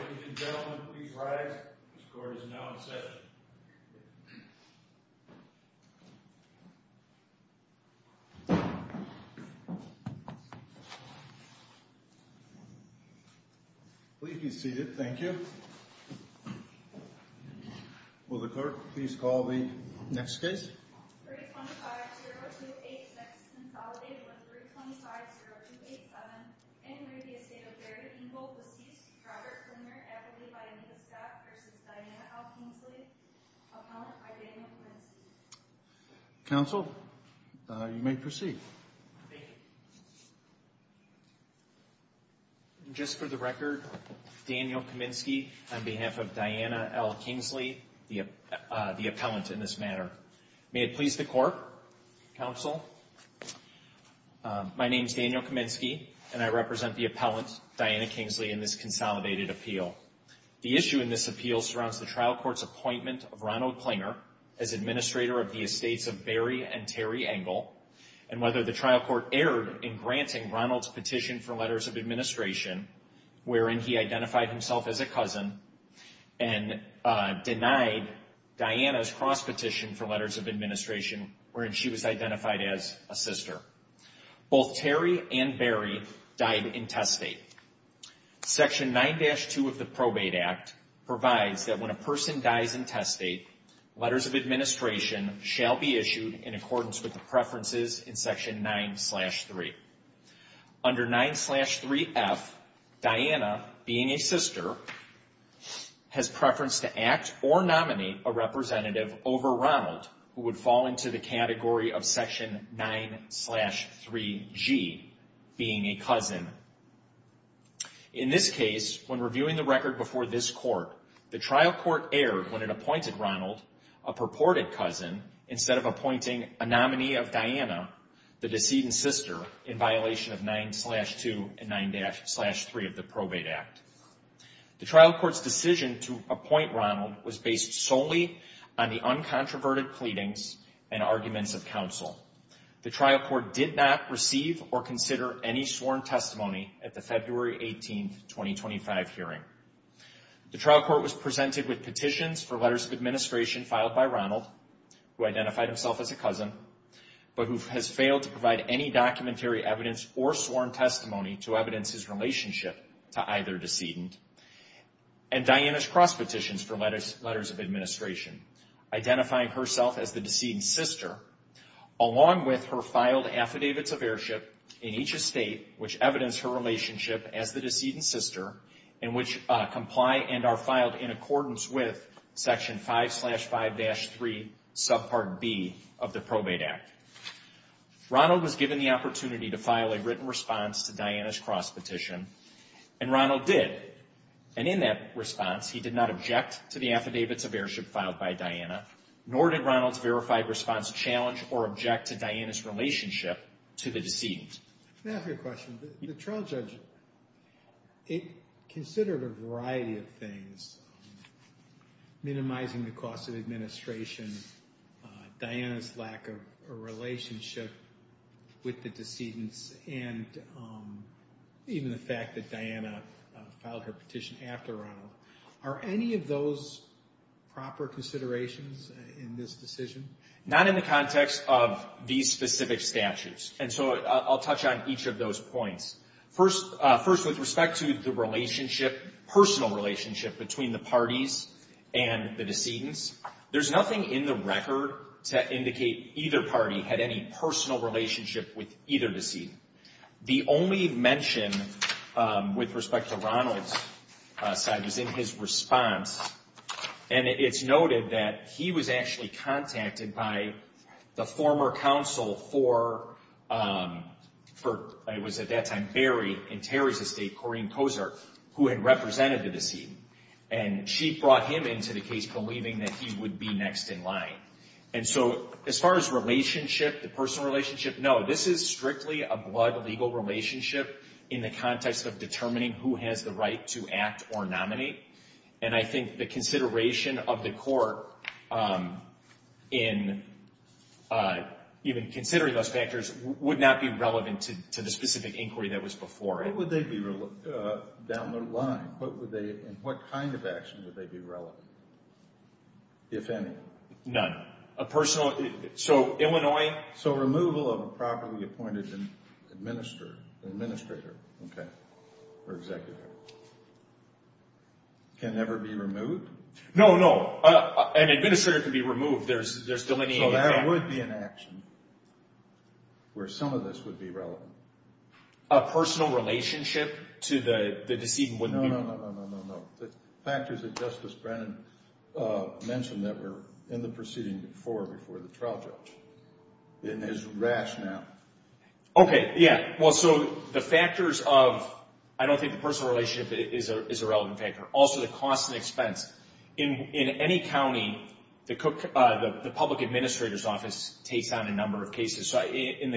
Ladies and gentlemen, please rise. This court is now in session. Please be seated. Thank you. Will the clerk please call the next case. 325-0286 Consolidated with 325-0287. In re Estate of Engle. Receives Robert Klemmer Adderley by Anita Scott vs. Diana L. Kingsley. Appellant by Daniel Kaminsky. Counsel, you may proceed. Thank you. Just for the record, Daniel Kaminsky on behalf of Diana L. Kingsley, the appellant in this manner. May it please the court. My name is Daniel Kaminsky and I represent the appellant, Diana Kingsley, in this consolidated appeal. The issue in this appeal surrounds the trial court's appointment of Ronald Klemmer as administrator of the estates of Barry and Terry Engle and whether the trial court erred in granting Ronald's petition for letters of administration wherein he identified himself as a cousin and denied Diana's cross petition for letters of administration wherein she was identified as a sister. Both Terry and Barry died in testate. Section 9-2 of the Probate Act provides that when a person dies in testate, letters of administration shall be issued in accordance with the preferences in Section 9-3. Under 9-3F, Diana, being a sister, has preference to act or nominate a representative over Ronald who would fall into the category of Section 9-3G, being a cousin. In this case, when reviewing the record before this court, the trial court erred when it appointed Ronald, a purported cousin, instead of appointing a nominee of Diana, the decedent sister, in violation of 9-2 and 9-3 of the Probate Act. The trial court's decision to appoint Ronald was based solely on the uncontroverted pleadings and arguments of counsel. The trial court did not receive or consider any sworn testimony at the February 18, 2025 hearing. The trial court was presented with petitions for letters of administration filed by Ronald who identified himself as a cousin, but who has failed to provide any documentary evidence or sworn testimony to evidence his relationship to either decedent, and Diana's cross petitions for letters of administration, identifying herself as the decedent sister, along with her filed Affidavits of Heirship in each estate which evidence her relationship as the decedent sister and which comply and are filed in accordance with Section 5-5-3, Subpart B of the Probate Act. Ronald was given the opportunity to file a written response to Diana's cross petition, and Ronald did. And in that response, he did not object to the Affidavits of Heirship filed by Diana, nor did Ronald's verified response challenge or object to Diana's relationship to the decedent. I have a question. The trial judge, it considered a variety of things, minimizing the cost of administration, Diana's lack of a relationship with the decedents, and even the fact that Diana filed her petition after Ronald. Are any of those proper considerations in this decision? Not in the context of these specific statutes. And so I'll touch on each of those points. First, with respect to the relationship, personal relationship, between the parties and the decedents, there's nothing in the record to indicate either party had any personal relationship with either decedent. The only mention with respect to Ronald's side was in his response, and it's noted that he was actually contacted by the former counsel for, it was at that time, Barry and Terry's estate, Corrine Kosar, who had represented the decedent. And she brought him into the case believing that he would be next in line. And so as far as relationship, the personal relationship, no, this is strictly a blood legal relationship in the context of determining who has the right to act or nominate. And I think the consideration of the court in even considering those factors would not be relevant to the specific inquiry that was before it. What would they be down the line? And what kind of action would they be relevant, if any? None. So Illinois? So removal of a properly appointed administrator, okay, or executive, can never be removed? No, no. An administrator can be removed. There's still any impact. So there would be an action where some of this would be relevant. A personal relationship to the decedent wouldn't be? No, no, no, no, no, no, no, no. The factors that Justice Brennan mentioned that were in the proceeding before, before the trial judge, in his rationale. Okay, yeah. Well, so the factors of, I don't think the personal relationship is a relevant factor. Also, the cost and expense. In any county, the public administrator's office takes on a number of cases. So in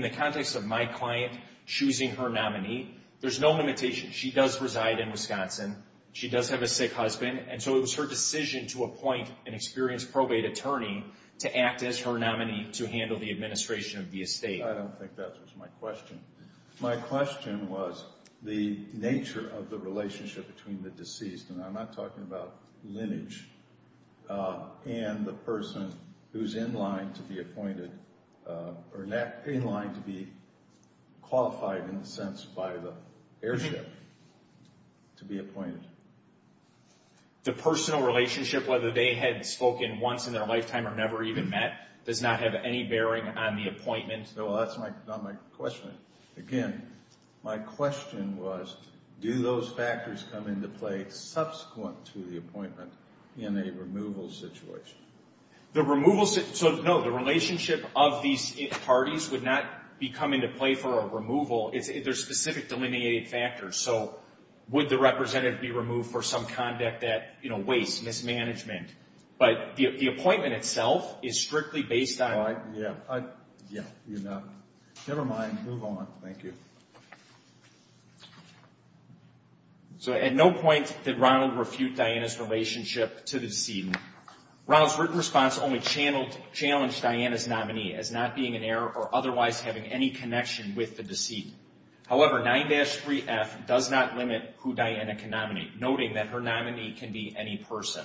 the context of my client choosing her nominee, there's no limitation. She does reside in Wisconsin. She does have a sick husband. And so it was her decision to appoint an experienced probate attorney to act as her nominee to handle the administration of the estate. I don't think that's my question. My question was the nature of the relationship between the deceased, and I'm not talking about lineage, and the person who's in line to be appointed, or in line to be qualified, in a sense, by the airship to be appointed. The personal relationship, whether they had spoken once in their lifetime or never even met, does not have any bearing on the appointment? No, that's not my question. Again, my question was, do those factors come into play subsequent to the appointment in a removal situation? So, no, the relationship of these parties would not come into play for a removal. They're specific delineated factors. So would the representative be removed for some conduct that wastes mismanagement? But the appointment itself is strictly based on – Yeah, you're not – never mind. Move on. Thank you. So at no point did Ronald refute Diana's relationship to the decedent. Ronald's written response only challenged Diana's nominee as not being an heir or otherwise having any connection with the decedent. However, 9-3F does not limit who Diana can nominate, noting that her nominee can be any person.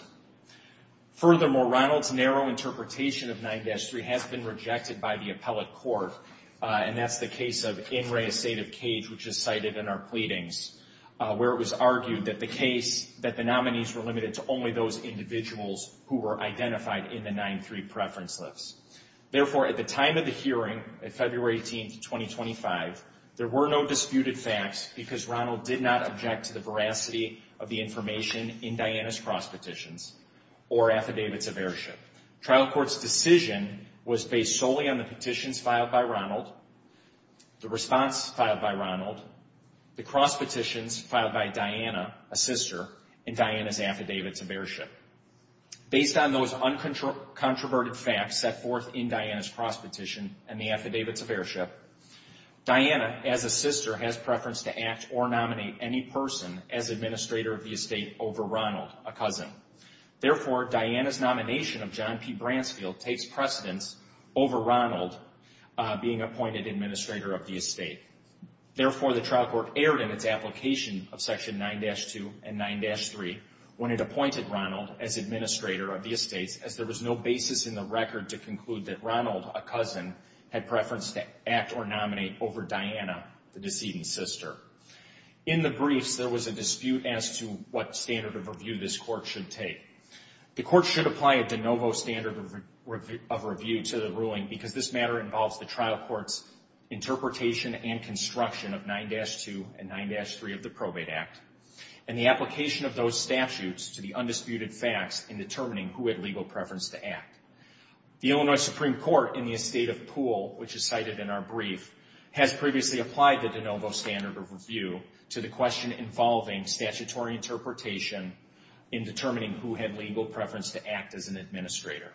Furthermore, Ronald's narrow interpretation of 9-3 has been rejected by the appellate court, and that's the case of In re Estate of Cage, which is cited in our pleadings, where it was argued that the case – that the nominees were limited to only those individuals who were identified in the 9-3 preference lists. Therefore, at the time of the hearing, February 18, 2025, there were no disputed facts because Ronald did not object to the veracity of the information in Diana's cross petitions or affidavits of heirship. Trial court's decision was based solely on the petitions filed by Ronald, the response filed by Ronald, the cross petitions filed by Diana, a sister, in Diana's affidavits of heirship. Based on those uncontroverted facts set forth in Diana's cross petition and the affidavits of heirship, Diana, as a sister, has preference to act or nominate any person as administrator of the estate over Ronald, a cousin. Therefore, Diana's nomination of John P. Bransfield takes precedence over Ronald being appointed administrator of the estate. Therefore, the trial court erred in its application of Section 9-2 and 9-3 when it appointed Ronald as administrator of the estates, as there was no basis in the record to conclude that Ronald, a cousin, had preference to act or nominate over Diana, the decedent's sister. In the briefs, there was a dispute as to what standard of review this court should take. The court should apply a de novo standard of review to the ruling because this matter involves the trial court's interpretation and construction of 9-2 and 9-3 of the Probate Act, and the application of those statutes to the undisputed facts in determining who had legal preference to act. The Illinois Supreme Court in the estate of Poole, which is cited in our brief, has previously applied the de novo standard of review to the question involving statutory interpretation in determining who had legal preference to act as an administrator.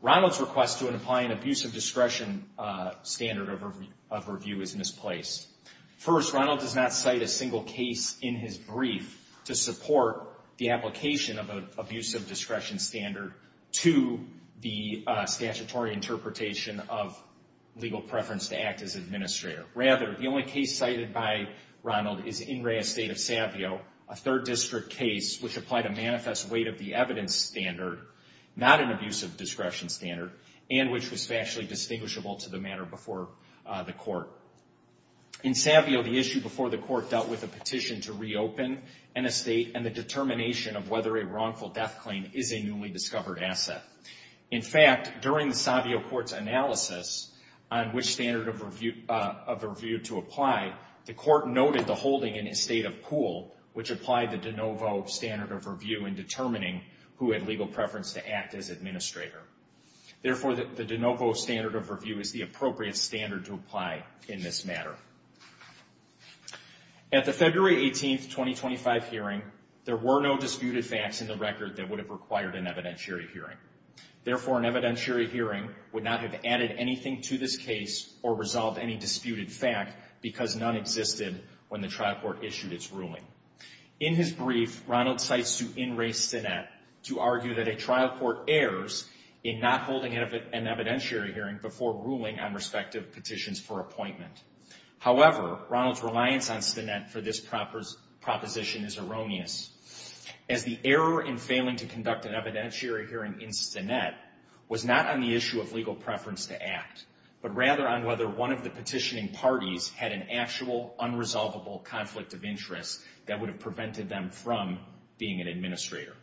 Ronald's request to apply an abuse of discretion standard of review is misplaced. First, Ronald does not cite a single case in his brief to support the application of an abuse of discretion standard to the statutory interpretation of legal preference to act as administrator. Rather, the only case cited by Ronald is in Rea Estate of Savio, a Third District case, which applied a manifest weight of the evidence standard, not an abuse of discretion standard, and which was factually distinguishable to the matter before the court. In Savio, the issue before the court dealt with a petition to reopen an estate and the determination of whether a wrongful death claim is a newly discovered asset. In fact, during the Savio court's analysis on which standard of review to apply, the court noted the holding in estate of Poole, which applied the de novo standard of review in determining who had legal preference to act as administrator. Therefore, the de novo standard of review is the appropriate standard to apply in this matter. At the February 18, 2025 hearing, there were no disputed facts in the record that would have required an evidentiary hearing. Therefore, an evidentiary hearing would not have added anything to this case or resolved any disputed fact because none existed when the trial court issued its ruling. In his brief, Ronald cites to in-race Stinnett to argue that a trial court errs in not holding an evidentiary hearing before ruling on respective petitions for appointment. However, Ronald's reliance on Stinnett for this proposition is erroneous, as the error in failing to conduct an evidentiary hearing in Stinnett was not on the issue of legal preference to act, but rather on whether one of the petitioning parties had an actual unresolvable conflict of interest that would have prevented them from being an administrator.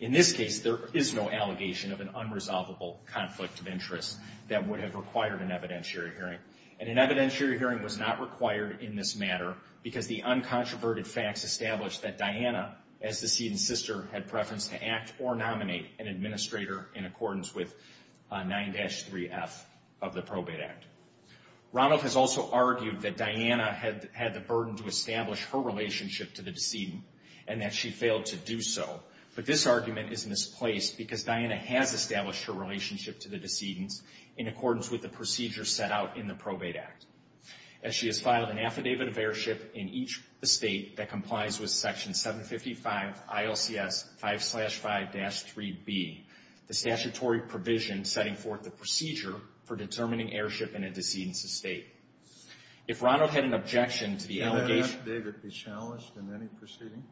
In this case, there is no allegation of an unresolvable conflict of interest that would have required an evidentiary hearing, and an evidentiary hearing was not required in this matter because the uncontroverted facts established that Diana, as the seed and sister, had preference to act or nominate an administrator in accordance with 9-3F of the Probate Act. Ronald has also argued that Diana had the burden to establish her relationship to the decedent and that she failed to do so, but this argument is misplaced because Diana has established her relationship to the decedent in accordance with the procedure set out in the Probate Act. As she has filed an affidavit of heirship in each estate that complies with Section 755 ILCS 5-5-3B, the statutory provision setting forth the procedure for determining heirship in a decedent's estate. If Ronald had an objection to the allegation... Can an affidavit be challenged in any proceeding?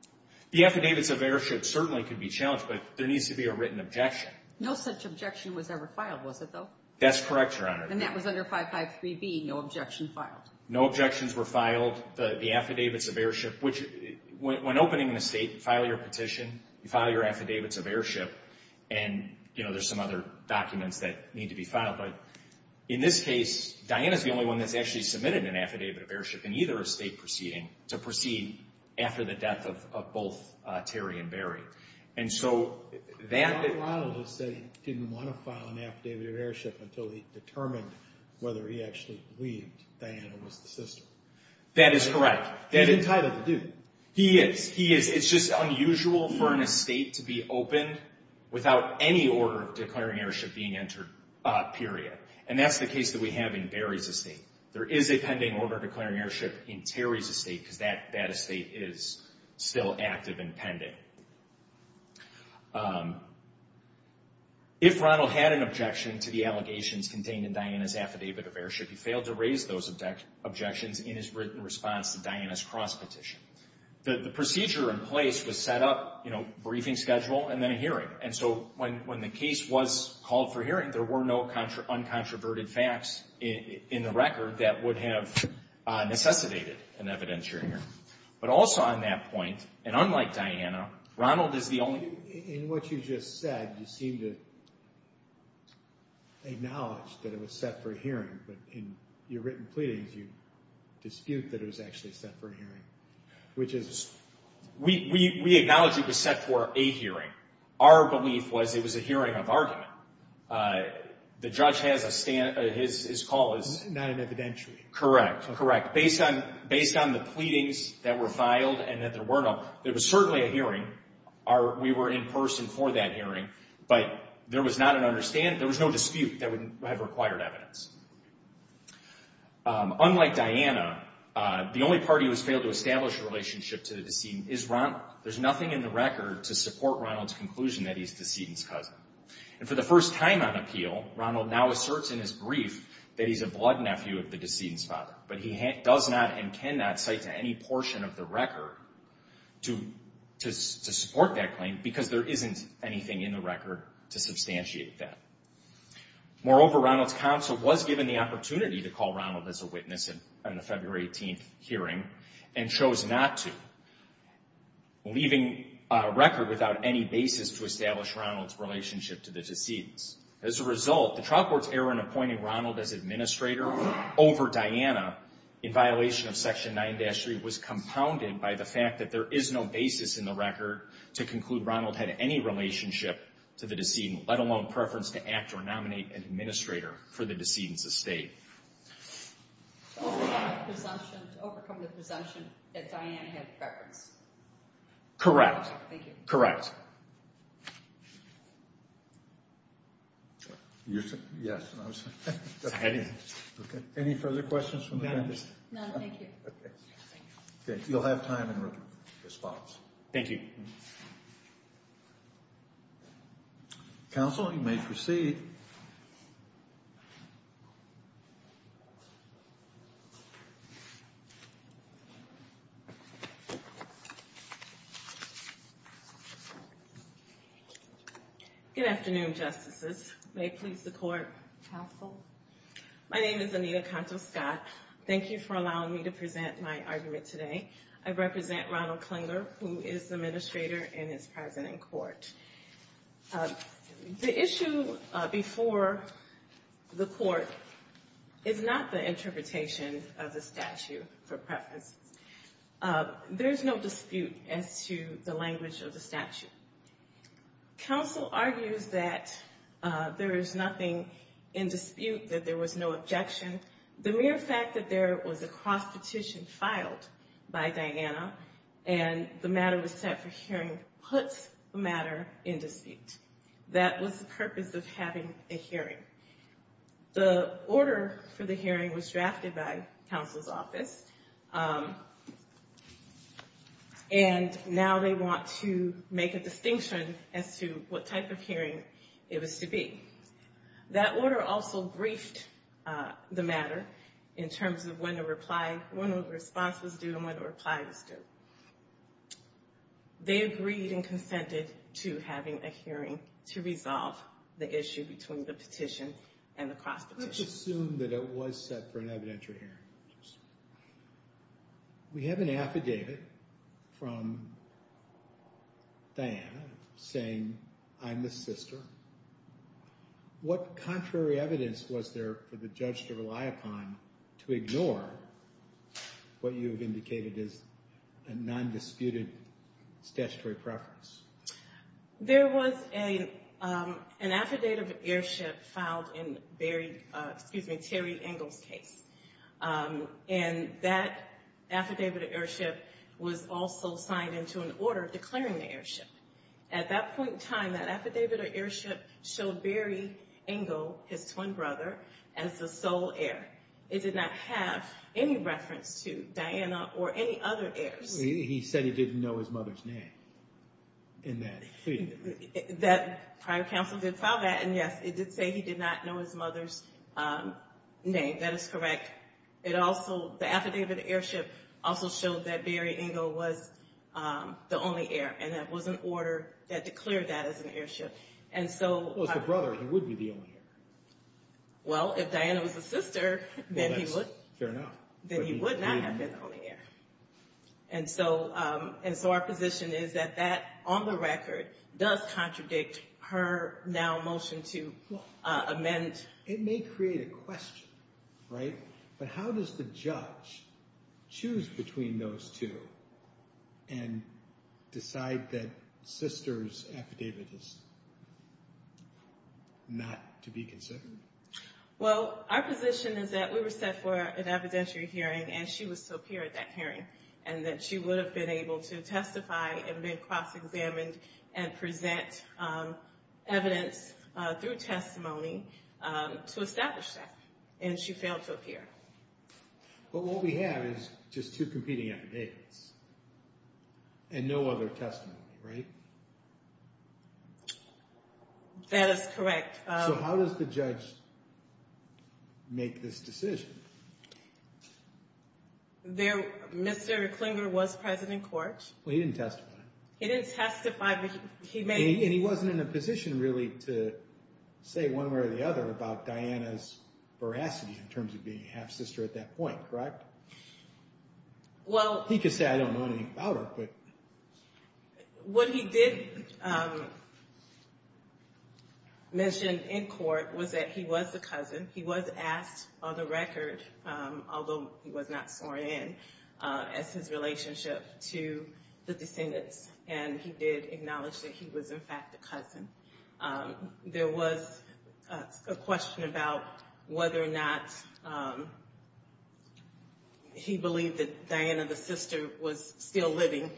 The affidavits of heirship certainly could be challenged, but there needs to be a written objection. No such objection was ever filed, was it, though? That's correct, Your Honor. And that was under 5-5-3B, no objection filed? No objections were filed. The affidavits of heirship, which, when opening an estate, you file your petition, you file your affidavits of heirship, and there's some other documents that need to be filed. But in this case, Diana's the only one that's actually submitted an affidavit of heirship in either estate proceeding to proceed after the death of both Terry and Barry. And so that... Ronald just said he didn't want to file an affidavit of heirship until he determined whether he actually believed Diana was the sister. That is correct. He's entitled to do. He is. He is. It's just unusual for an estate to be opened without any order of declaring heirship being entered, period. And that's the case that we have in Barry's estate. There is a pending order of declaring heirship in Terry's estate because that estate is still active and pending. If Ronald had an objection to the allegations contained in Diana's affidavit of heirship, he failed to raise those objections in his written response to Diana's cross-petition. The procedure in place was set up, you know, briefing schedule and then a hearing. And so when the case was called for hearing, there were no uncontroverted facts in the record that would have necessitated an evidentiary hearing. But also on that point, and unlike Diana, Ronald is the only... In what you just said, you seem to acknowledge that it was set for hearing, but in your written pleadings you dispute that it was actually set for hearing, which is... We acknowledge it was set for a hearing. Our belief was it was a hearing of argument. The judge has a stand... His call is... Not an evidentiary. Correct. Correct. Based on the pleadings that were filed and that there were no... There was certainly a hearing. We were in person for that hearing, but there was not an understanding... There was no dispute that would have required evidence. Unlike Diana, the only party who has failed to establish a relationship to the decedent is Ronald. There's nothing in the record to support Ronald's conclusion that he's the decedent's cousin. And for the first time on appeal, Ronald now asserts in his brief that he's a blood nephew of the decedent's father, but he does not and cannot cite to any portion of the record to support that claim because there isn't anything in the record to substantiate that. Moreover, Ronald's counsel was given the opportunity to call Ronald as a witness in the February 18th hearing and chose not to, leaving a record without any basis to establish Ronald's relationship to the decedents. As a result, the trial court's error in appointing Ronald as administrator over Diana in violation of Section 9-3 was compounded by the fact that there is no basis in the record to conclude Ronald had any relationship to the decedent, let alone preference to act or nominate an administrator for the decedent's estate. To overcome the presumption that Diana had preference? Correct. Thank you. Correct. Any further questions? None. Thank you. You'll have time in response. Thank you. Counsel, you may proceed. Good afternoon, Justices. May it please the Court. Counsel. My name is Anita Conto-Scott. Thank you for allowing me to present my argument today. I represent Ronald Klinger, who is the administrator and is present in court. The issue before the court is not the interpretation of the statute for preference. There is no dispute as to the language of the statute. Counsel argues that there is nothing in dispute, that there was no objection. The mere fact that there was a cross-petition filed by Diana and the matter was set for hearing puts the matter in dispute. That was the purpose of having a hearing. The order for the hearing was drafted by counsel's office, and now they want to make a distinction as to what type of hearing it was to be. That order also briefed the matter in terms of when the response was due and when the reply was due. They agreed and consented to having a hearing to resolve the issue between the petition and the cross-petition. Let's assume that it was set for an evidentiary hearing. We have an affidavit from Diana saying, I'm the sister. What contrary evidence was there for the judge to rely upon to ignore what you have indicated as a non-disputed statutory preference? There was an affidavit of airship filed in Terry Engle's case. That affidavit of airship was also signed into an order declaring the airship. At that point in time, that affidavit of airship showed Barry Engle, his twin brother, as the sole heir. It did not have any reference to Diana or any other heirs. He said he didn't know his mother's name. That prior counsel did file that, and yes, it did say he did not know his mother's name. That is correct. The affidavit of airship also showed that Barry Engle was the only heir. That was an order that declared that as an airship. If it was the brother, he would be the only heir. Well, if Diana was the sister, then he would not have been the only heir. Our position is that that, on the record, does contradict her now motion to amend. It may create a question, right? But how does the judge choose between those two and decide that sister's affidavit is not to be considered? Well, our position is that we were set for an evidentiary hearing, and she was superior at that hearing. And that she would have been able to testify and be cross-examined and present evidence through testimony to establish that. And she failed to appear. But what we have is just two competing affidavits and no other testimony, right? That is correct. So how does the judge make this decision? Mr. Klinger was present in court. Well, he didn't testify. He didn't testify, but he made— And he wasn't in a position, really, to say one way or the other about Diana's veracity in terms of being a half-sister at that point, correct? Well— He could say, I don't know anything about her, but— What he did mention in court was that he was a cousin. He was asked on the record, although he was not sworn in, as his relationship to the descendants. And he did acknowledge that he was, in fact, a cousin. There was a question about whether or not he believed that Diana, the sister, was still living.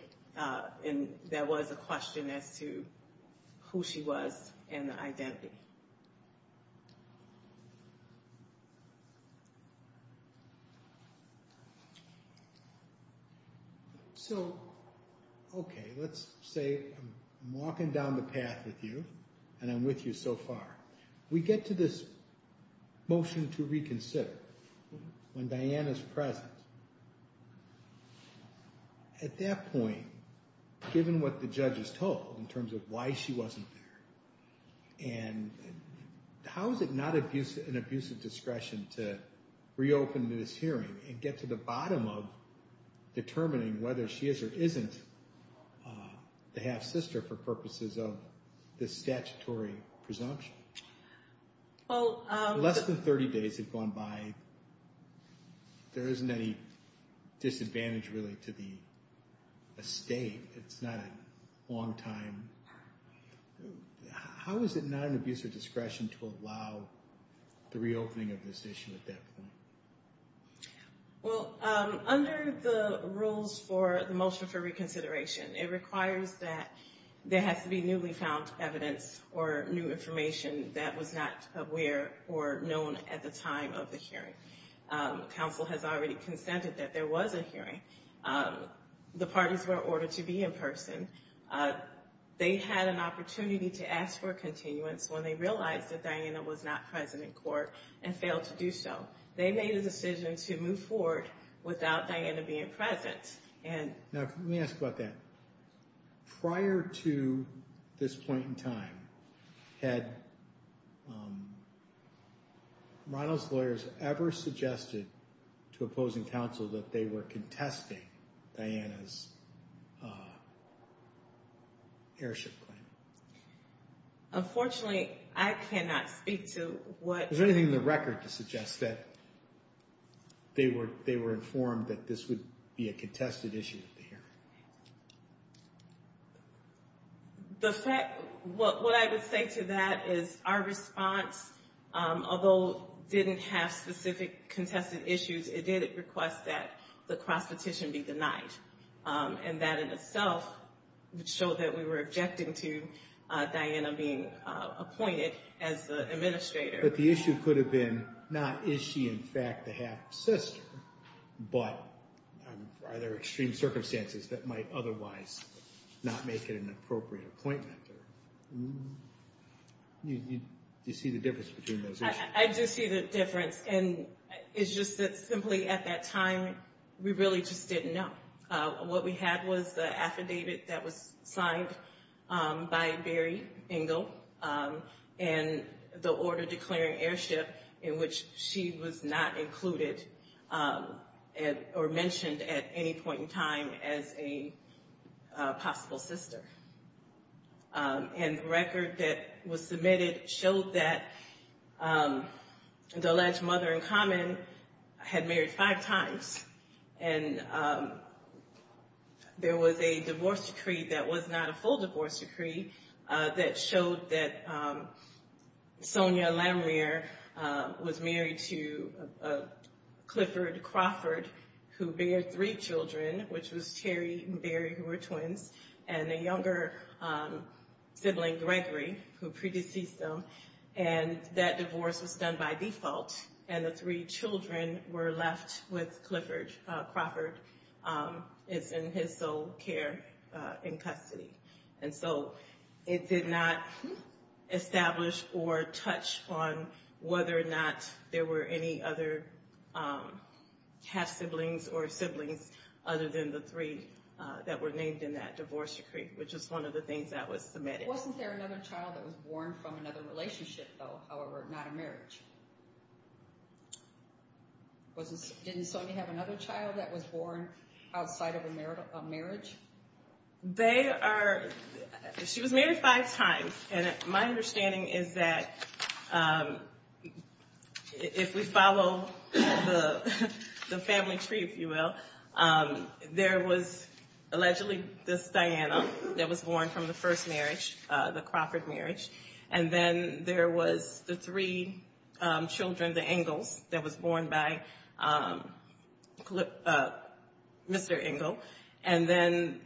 And there was a question as to who she was and the identity. So, okay, let's say I'm walking down the path with you, and I'm with you so far. We get to this motion to reconsider, when Diana's present. At that point, given what the judge has told in terms of why she wasn't there, and why she was a half-sister, how is it not an abuse of discretion to reopen this hearing and get to the bottom of determining whether she is or isn't the half-sister for purposes of this statutory presumption? Well— Less than 30 days had gone by. There isn't any disadvantage, really, to the estate. It's not a long time. How is it not an abuse of discretion to allow the reopening of this issue at that point? Well, under the rules for the motion for reconsideration, it requires that there has to be newly found evidence or new information that was not aware or known at the time of the hearing. Council has already consented that there was a hearing. The parties were ordered to be in person. They had an opportunity to ask for a continuance when they realized that Diana was not present in court and failed to do so. They made a decision to move forward without Diana being present. Now, let me ask about that. Prior to this point in time, had Ronald's lawyers ever suggested to opposing counsel that they were contesting Diana's heirship claim? Unfortunately, I cannot speak to what— Was there anything in the record to suggest that they were informed that this would be a contested issue at the hearing? The fact—what I would say to that is our response, although it didn't have specific contested issues, it did request that the cross-petition be denied. And that in itself would show that we were objecting to Diana being appointed as the administrator. But the issue could have been not, is she in fact the half-sister, but are there extreme circumstances that might otherwise not make it an appropriate appointment? Do you see the difference between those issues? I do see the difference. And it's just that simply at that time, we really just didn't know. What we had was the affidavit that was signed by Barry Engel and the order declaring heirship in which she was not included or mentioned at any point in time as a possible sister. And the record that was submitted showed that the alleged mother-in-common had married five times. And there was a divorce decree that was not a full divorce decree that showed that Sonia Lamere was married to Clifford Crawford, who bared three children, which was Terry and Barry, who were twins, and a younger sibling, Gregory, who predeceased them. And that divorce was done by default, and the three children were left with Clifford Crawford in his sole care in custody. And so it did not establish or touch on whether or not there were any other half-siblings or siblings other than the three that were named in that divorce decree, which was one of the things that was submitted. Wasn't there another child that was born from another relationship, though, however, not a marriage? Didn't Sonia have another child that was born outside of a marriage? They are – she was married five times, and my understanding is that if we follow the family tree, if you will, there was allegedly this Diana that was born from the first marriage, the Crawford marriage, and then there was the three children, the Engles, that was born by Mr. Engle, and then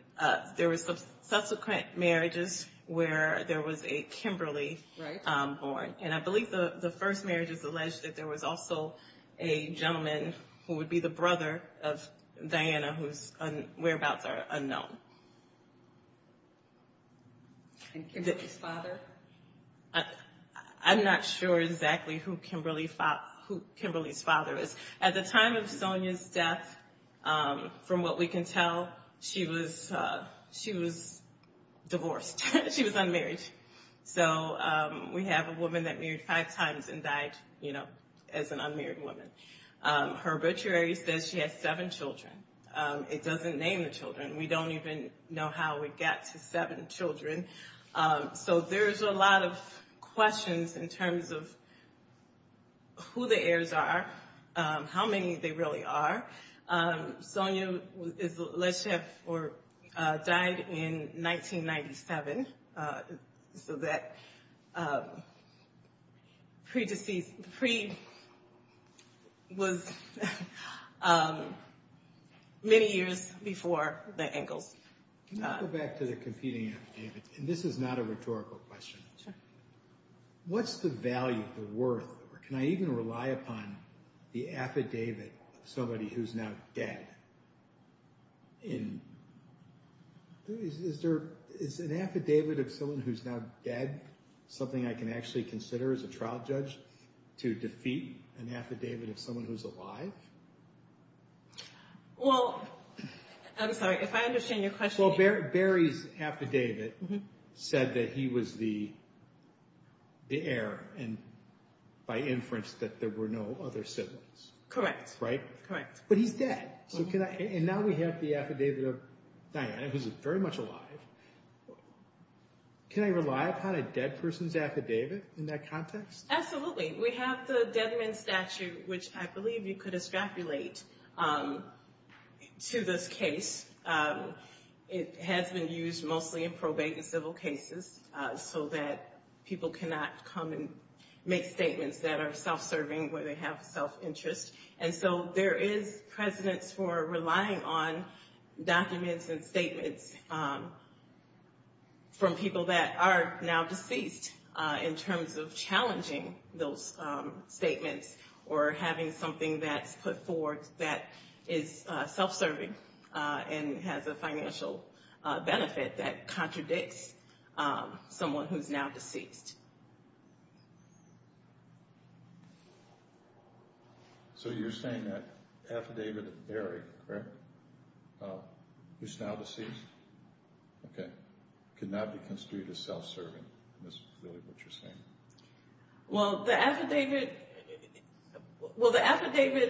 there were subsequent marriages where there was a Kimberly born. And I believe the first marriage is alleged that there was also a gentleman who would be the brother of Diana whose whereabouts are unknown. And Kimberly's father? I'm not sure exactly who Kimberly's father is. At the time of Sonia's death, from what we can tell, she was divorced. She was unmarried. So we have a woman that married five times and died as an unmarried woman. Her obituary says she has seven children. It doesn't name the children. We don't even know how it got to seven children. So there's a lot of questions in terms of who the heirs are, how many they really are. Sonia died in 1997, so that pre-deceased, pre-was many years before the Engles. Can I go back to the competing affidavits? And this is not a rhetorical question. What's the value, the worth, or can I even rely upon the affidavit of somebody who's now dead? Is an affidavit of someone who's now dead something I can actually consider as a trial judge to defeat an affidavit of someone who's alive? Well, I'm sorry, if I understand your question. Well, Barry's affidavit said that he was the heir and by inference that there were no other siblings. Correct. Right? Correct. But he's dead. And now we have the affidavit of Diana, who's very much alive. Can I rely upon a dead person's affidavit in that context? Absolutely. We have the Deadman Statute, which I believe you could extrapolate to this case. It has been used mostly in probate and civil cases so that people cannot come and make statements that are self-serving where they have self-interest. And so there is precedence for relying on documents and statements from people that are now deceased in terms of challenging those statements or having something that's put forward that is self-serving and has a financial benefit that contradicts someone who's now deceased. So you're saying that affidavit of Barry, correct, who's now deceased, okay, could not be construed as self-serving. That's really what you're saying. Well, the affidavit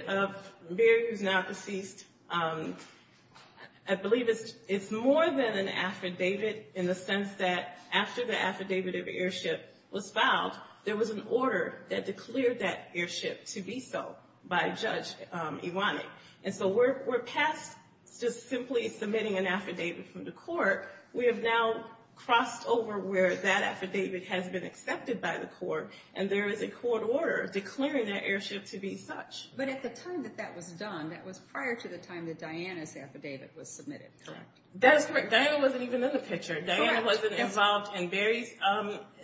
of Barry, who's now deceased, I believe it's more than an affidavit in the sense that after the affidavit of airship was filed, there was an order that declared that airship to be so by Judge Iwanek. And so we're past just simply submitting an affidavit from the court. We have now crossed over where that affidavit has been accepted by the court, and there is a court order declaring that airship to be such. But at the time that that was done, that was prior to the time that Diana's affidavit was submitted, correct? That is correct. Diana wasn't even in the picture. Diana wasn't involved in Barry's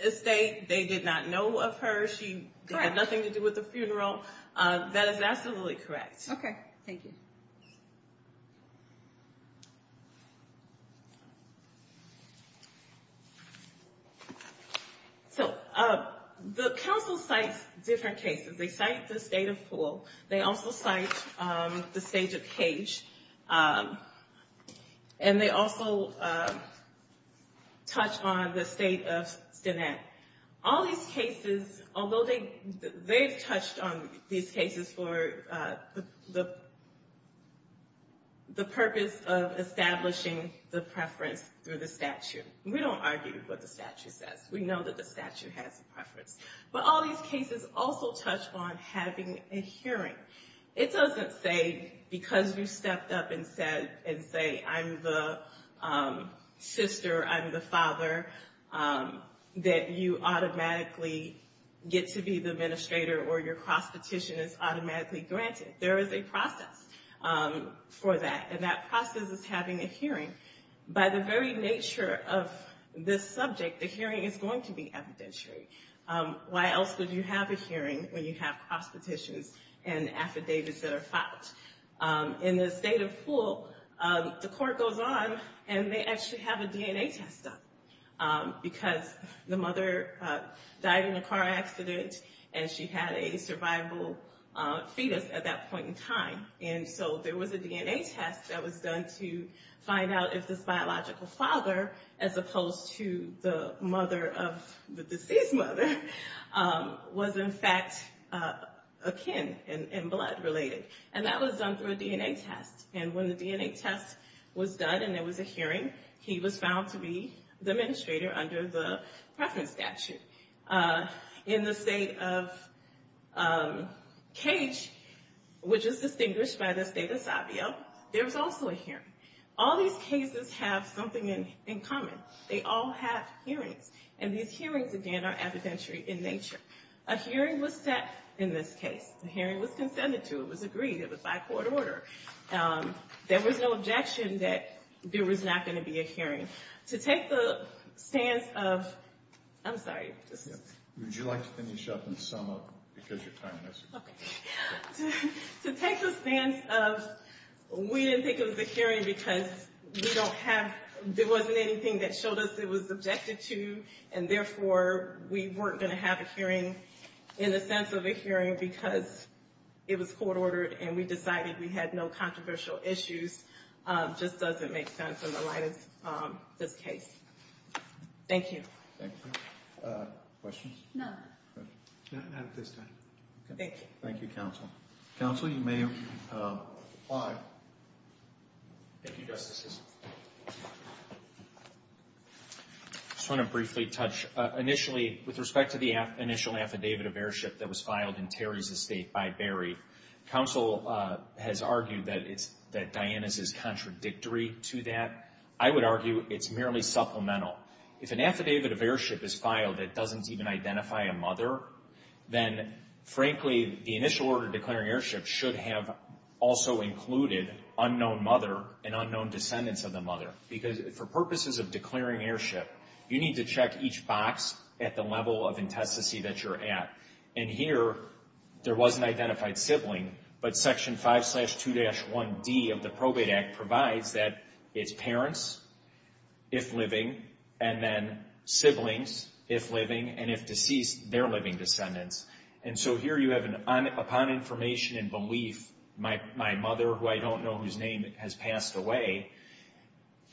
estate. They did not know of her. She had nothing to do with the funeral. That is absolutely correct. Okay, thank you. So the council cites different cases. They cite the state of Poole. They also cite the state of Cage. And they also touch on the state of Stenette. All these cases, although they've touched on these cases for the purpose of establishing the preference through the statute. We don't argue what the statute says. We know that the statute has a preference. But all these cases also touch on having a hearing. It doesn't say because you stepped up and said, and say, I'm the sister, I'm the father, that you automatically get to be the administrator or your cross petition is automatically granted. There is a process for that. And that process is having a hearing. By the very nature of this subject, the hearing is going to be evidentiary. Why else would you have a hearing when you have cross petitions and affidavits that are filed? In the state of Poole, the court goes on and they actually have a DNA test done. Because the mother died in a car accident and she had a survival fetus at that point in time. And so there was a DNA test that was done to find out if this biological father, as opposed to the mother of the deceased mother, was in fact akin and blood related. And that was done through a DNA test. And when the DNA test was done and there was a hearing, he was found to be the administrator under the preference statute. In the state of Cage, which is distinguished by the state of Savio, there was also a hearing. All these cases have something in common. They all have hearings. And these hearings, again, are evidentiary in nature. A hearing was set in this case. The hearing was consented to. It was agreed. It was by court order. There was no objection that there was not going to be a hearing. To take the stance of... I'm sorry. Would you like to finish up and sum up? Because your time has expired. To take the stance of we didn't think it was a hearing because we don't have... There wasn't anything that showed us it was objected to. And therefore, we weren't going to have a hearing in the sense of a hearing because it was court ordered and we decided we had no controversial issues. It just doesn't make sense in the light of this case. Thank you. Thank you. Questions? No. Not at this time. Thank you. Thank you, Counsel. Counsel, you may apply. Thank you, Justices. I just want to briefly touch. Initially, with respect to the initial affidavit of airship that was filed in Terry's estate by Berry, Counsel has argued that Diana's is contradictory to that. I would argue it's merely supplemental. If an affidavit of airship is filed that doesn't even identify a mother, then, frankly, the initial order declaring airship should have also included unknown mother and unknown descendants of the mother. Because for purposes of declaring airship, you need to check each box at the level of intestacy that you're at. And here, there was an identified sibling, but Section 5-2-1D of the Probate Act provides that it's parents, if living, and then siblings, if living, and if deceased, their living descendants. And so here you have, upon information and belief, my mother, who I don't know whose name, has passed away.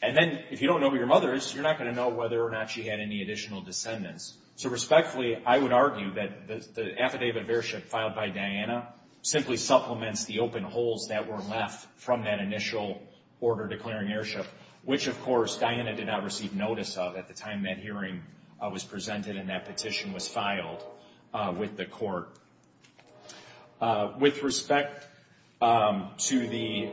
And then, if you don't know who your mother is, you're not going to know whether or not she had any additional descendants. So, respectfully, I would argue that the affidavit of airship filed by Diana simply supplements the open holes that were left from that initial order declaring airship, which, of course, Diana did not receive notice of at the time that hearing was presented and that petition was filed with the court. With respect to the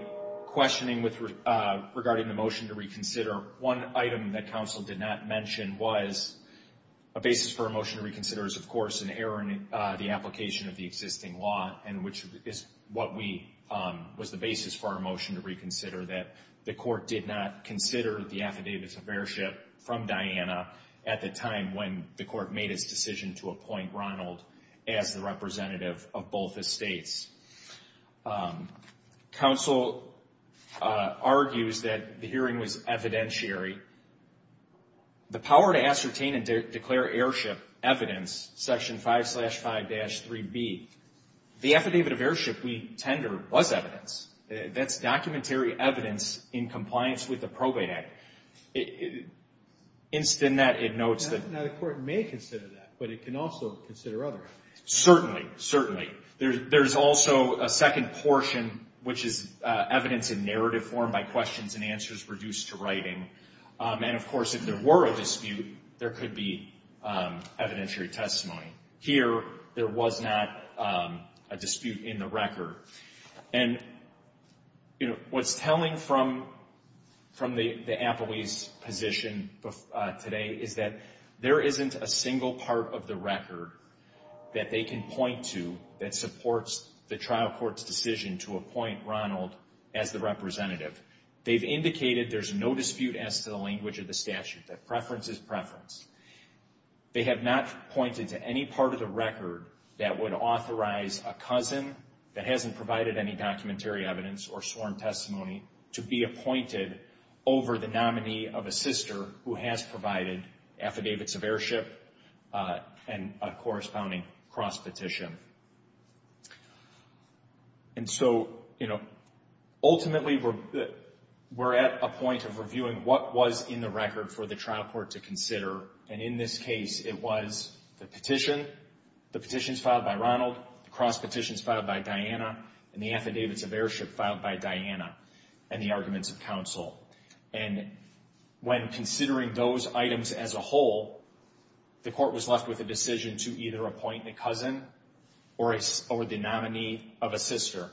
questioning regarding the motion to reconsider, one item that counsel did not mention was a basis for a motion to reconsider is, of course, an error in the application of the existing law, and which is what was the basis for our motion to reconsider, that the court did not consider the affidavit of airship from Diana at the time when the court made its decision to appoint Ronald as the representative of both estates. Counsel argues that the hearing was evidentiary. The power to ascertain and declare airship evidence, Section 5-5-3B, the affidavit of airship we tender was evidence. That's documentary evidence in compliance with the Probate Act. Instant that it notes that... Now, the court may consider that, but it can also consider other evidence. Certainly, certainly. There's also a second portion, which is evidence in narrative form by questions and answers reduced to writing. And, of course, if there were a dispute, there could be evidentiary testimony. Here, there was not a dispute in the record. And, you know, what's telling from the appellee's position today is that there isn't a single part of the record that they can point to that supports the trial court's decision to appoint Ronald as the representative. They've indicated there's no dispute as to the language of the statute, that preference is preference. They have not pointed to any part of the record that would authorize a cousin that hasn't provided any documentary evidence or sworn testimony to be appointed over the nominee of a sister who has provided affidavits of airship and a corresponding cross-petition. And so, you know, ultimately, we're at a point of reviewing what was in the record for the trial court to consider. And in this case, it was the petition, the petitions filed by Ronald, cross-petitions filed by Diana, and the affidavits of airship filed by Diana, and the arguments of counsel. And when considering those items as a whole, the court was left with a decision to either appoint a cousin or the nominee of a sister.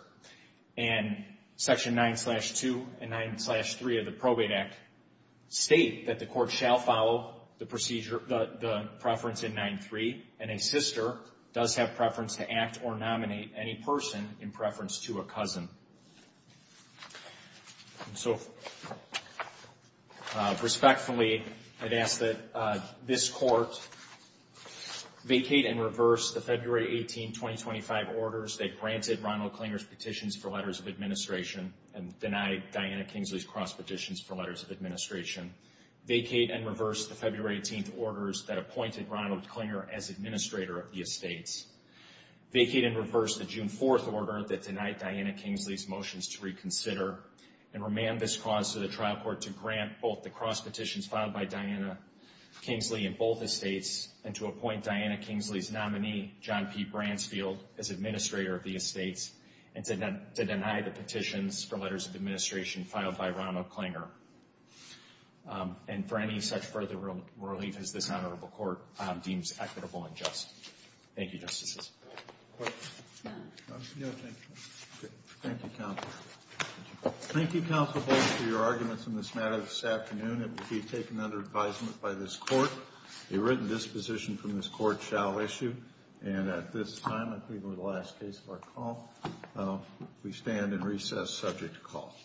And Section 9-2 and 9-3 of the Probate Act state that the court shall follow the preference in 9-3, and a sister does have preference to act or nominate any person in preference to a cousin. And so, respectfully, I'd ask that this court vacate and reverse the February 18, 2025, orders that granted Ronald Klinger's petitions for letters of administration and denied Diana Kingsley's cross-petitions for letters of administration. Vacate and reverse the February 18 orders that appointed Ronald Klinger as administrator of the estates. Vacate and reverse the June 4 order that denied Diana Kingsley's motions to reconsider and remand this cause to the trial court to grant both the cross-petitions filed by Diana Kingsley in both estates and to appoint Diana Kingsley's nominee, John P. Bransfield, as administrator of the estates and to deny the petitions for letters of administration filed by Ronald Klinger. And for any such further relief, as this honorable court deems equitable and just. Thank you, Justices. Questions? No, thank you. Thank you, Counsel. Thank you, Counsel Bull, for your arguments on this matter this afternoon. It will be taken under advisement by this court. A written disposition from this court shall issue. And at this time, I believe we're at the last case of our call. We stand in recess subject to call.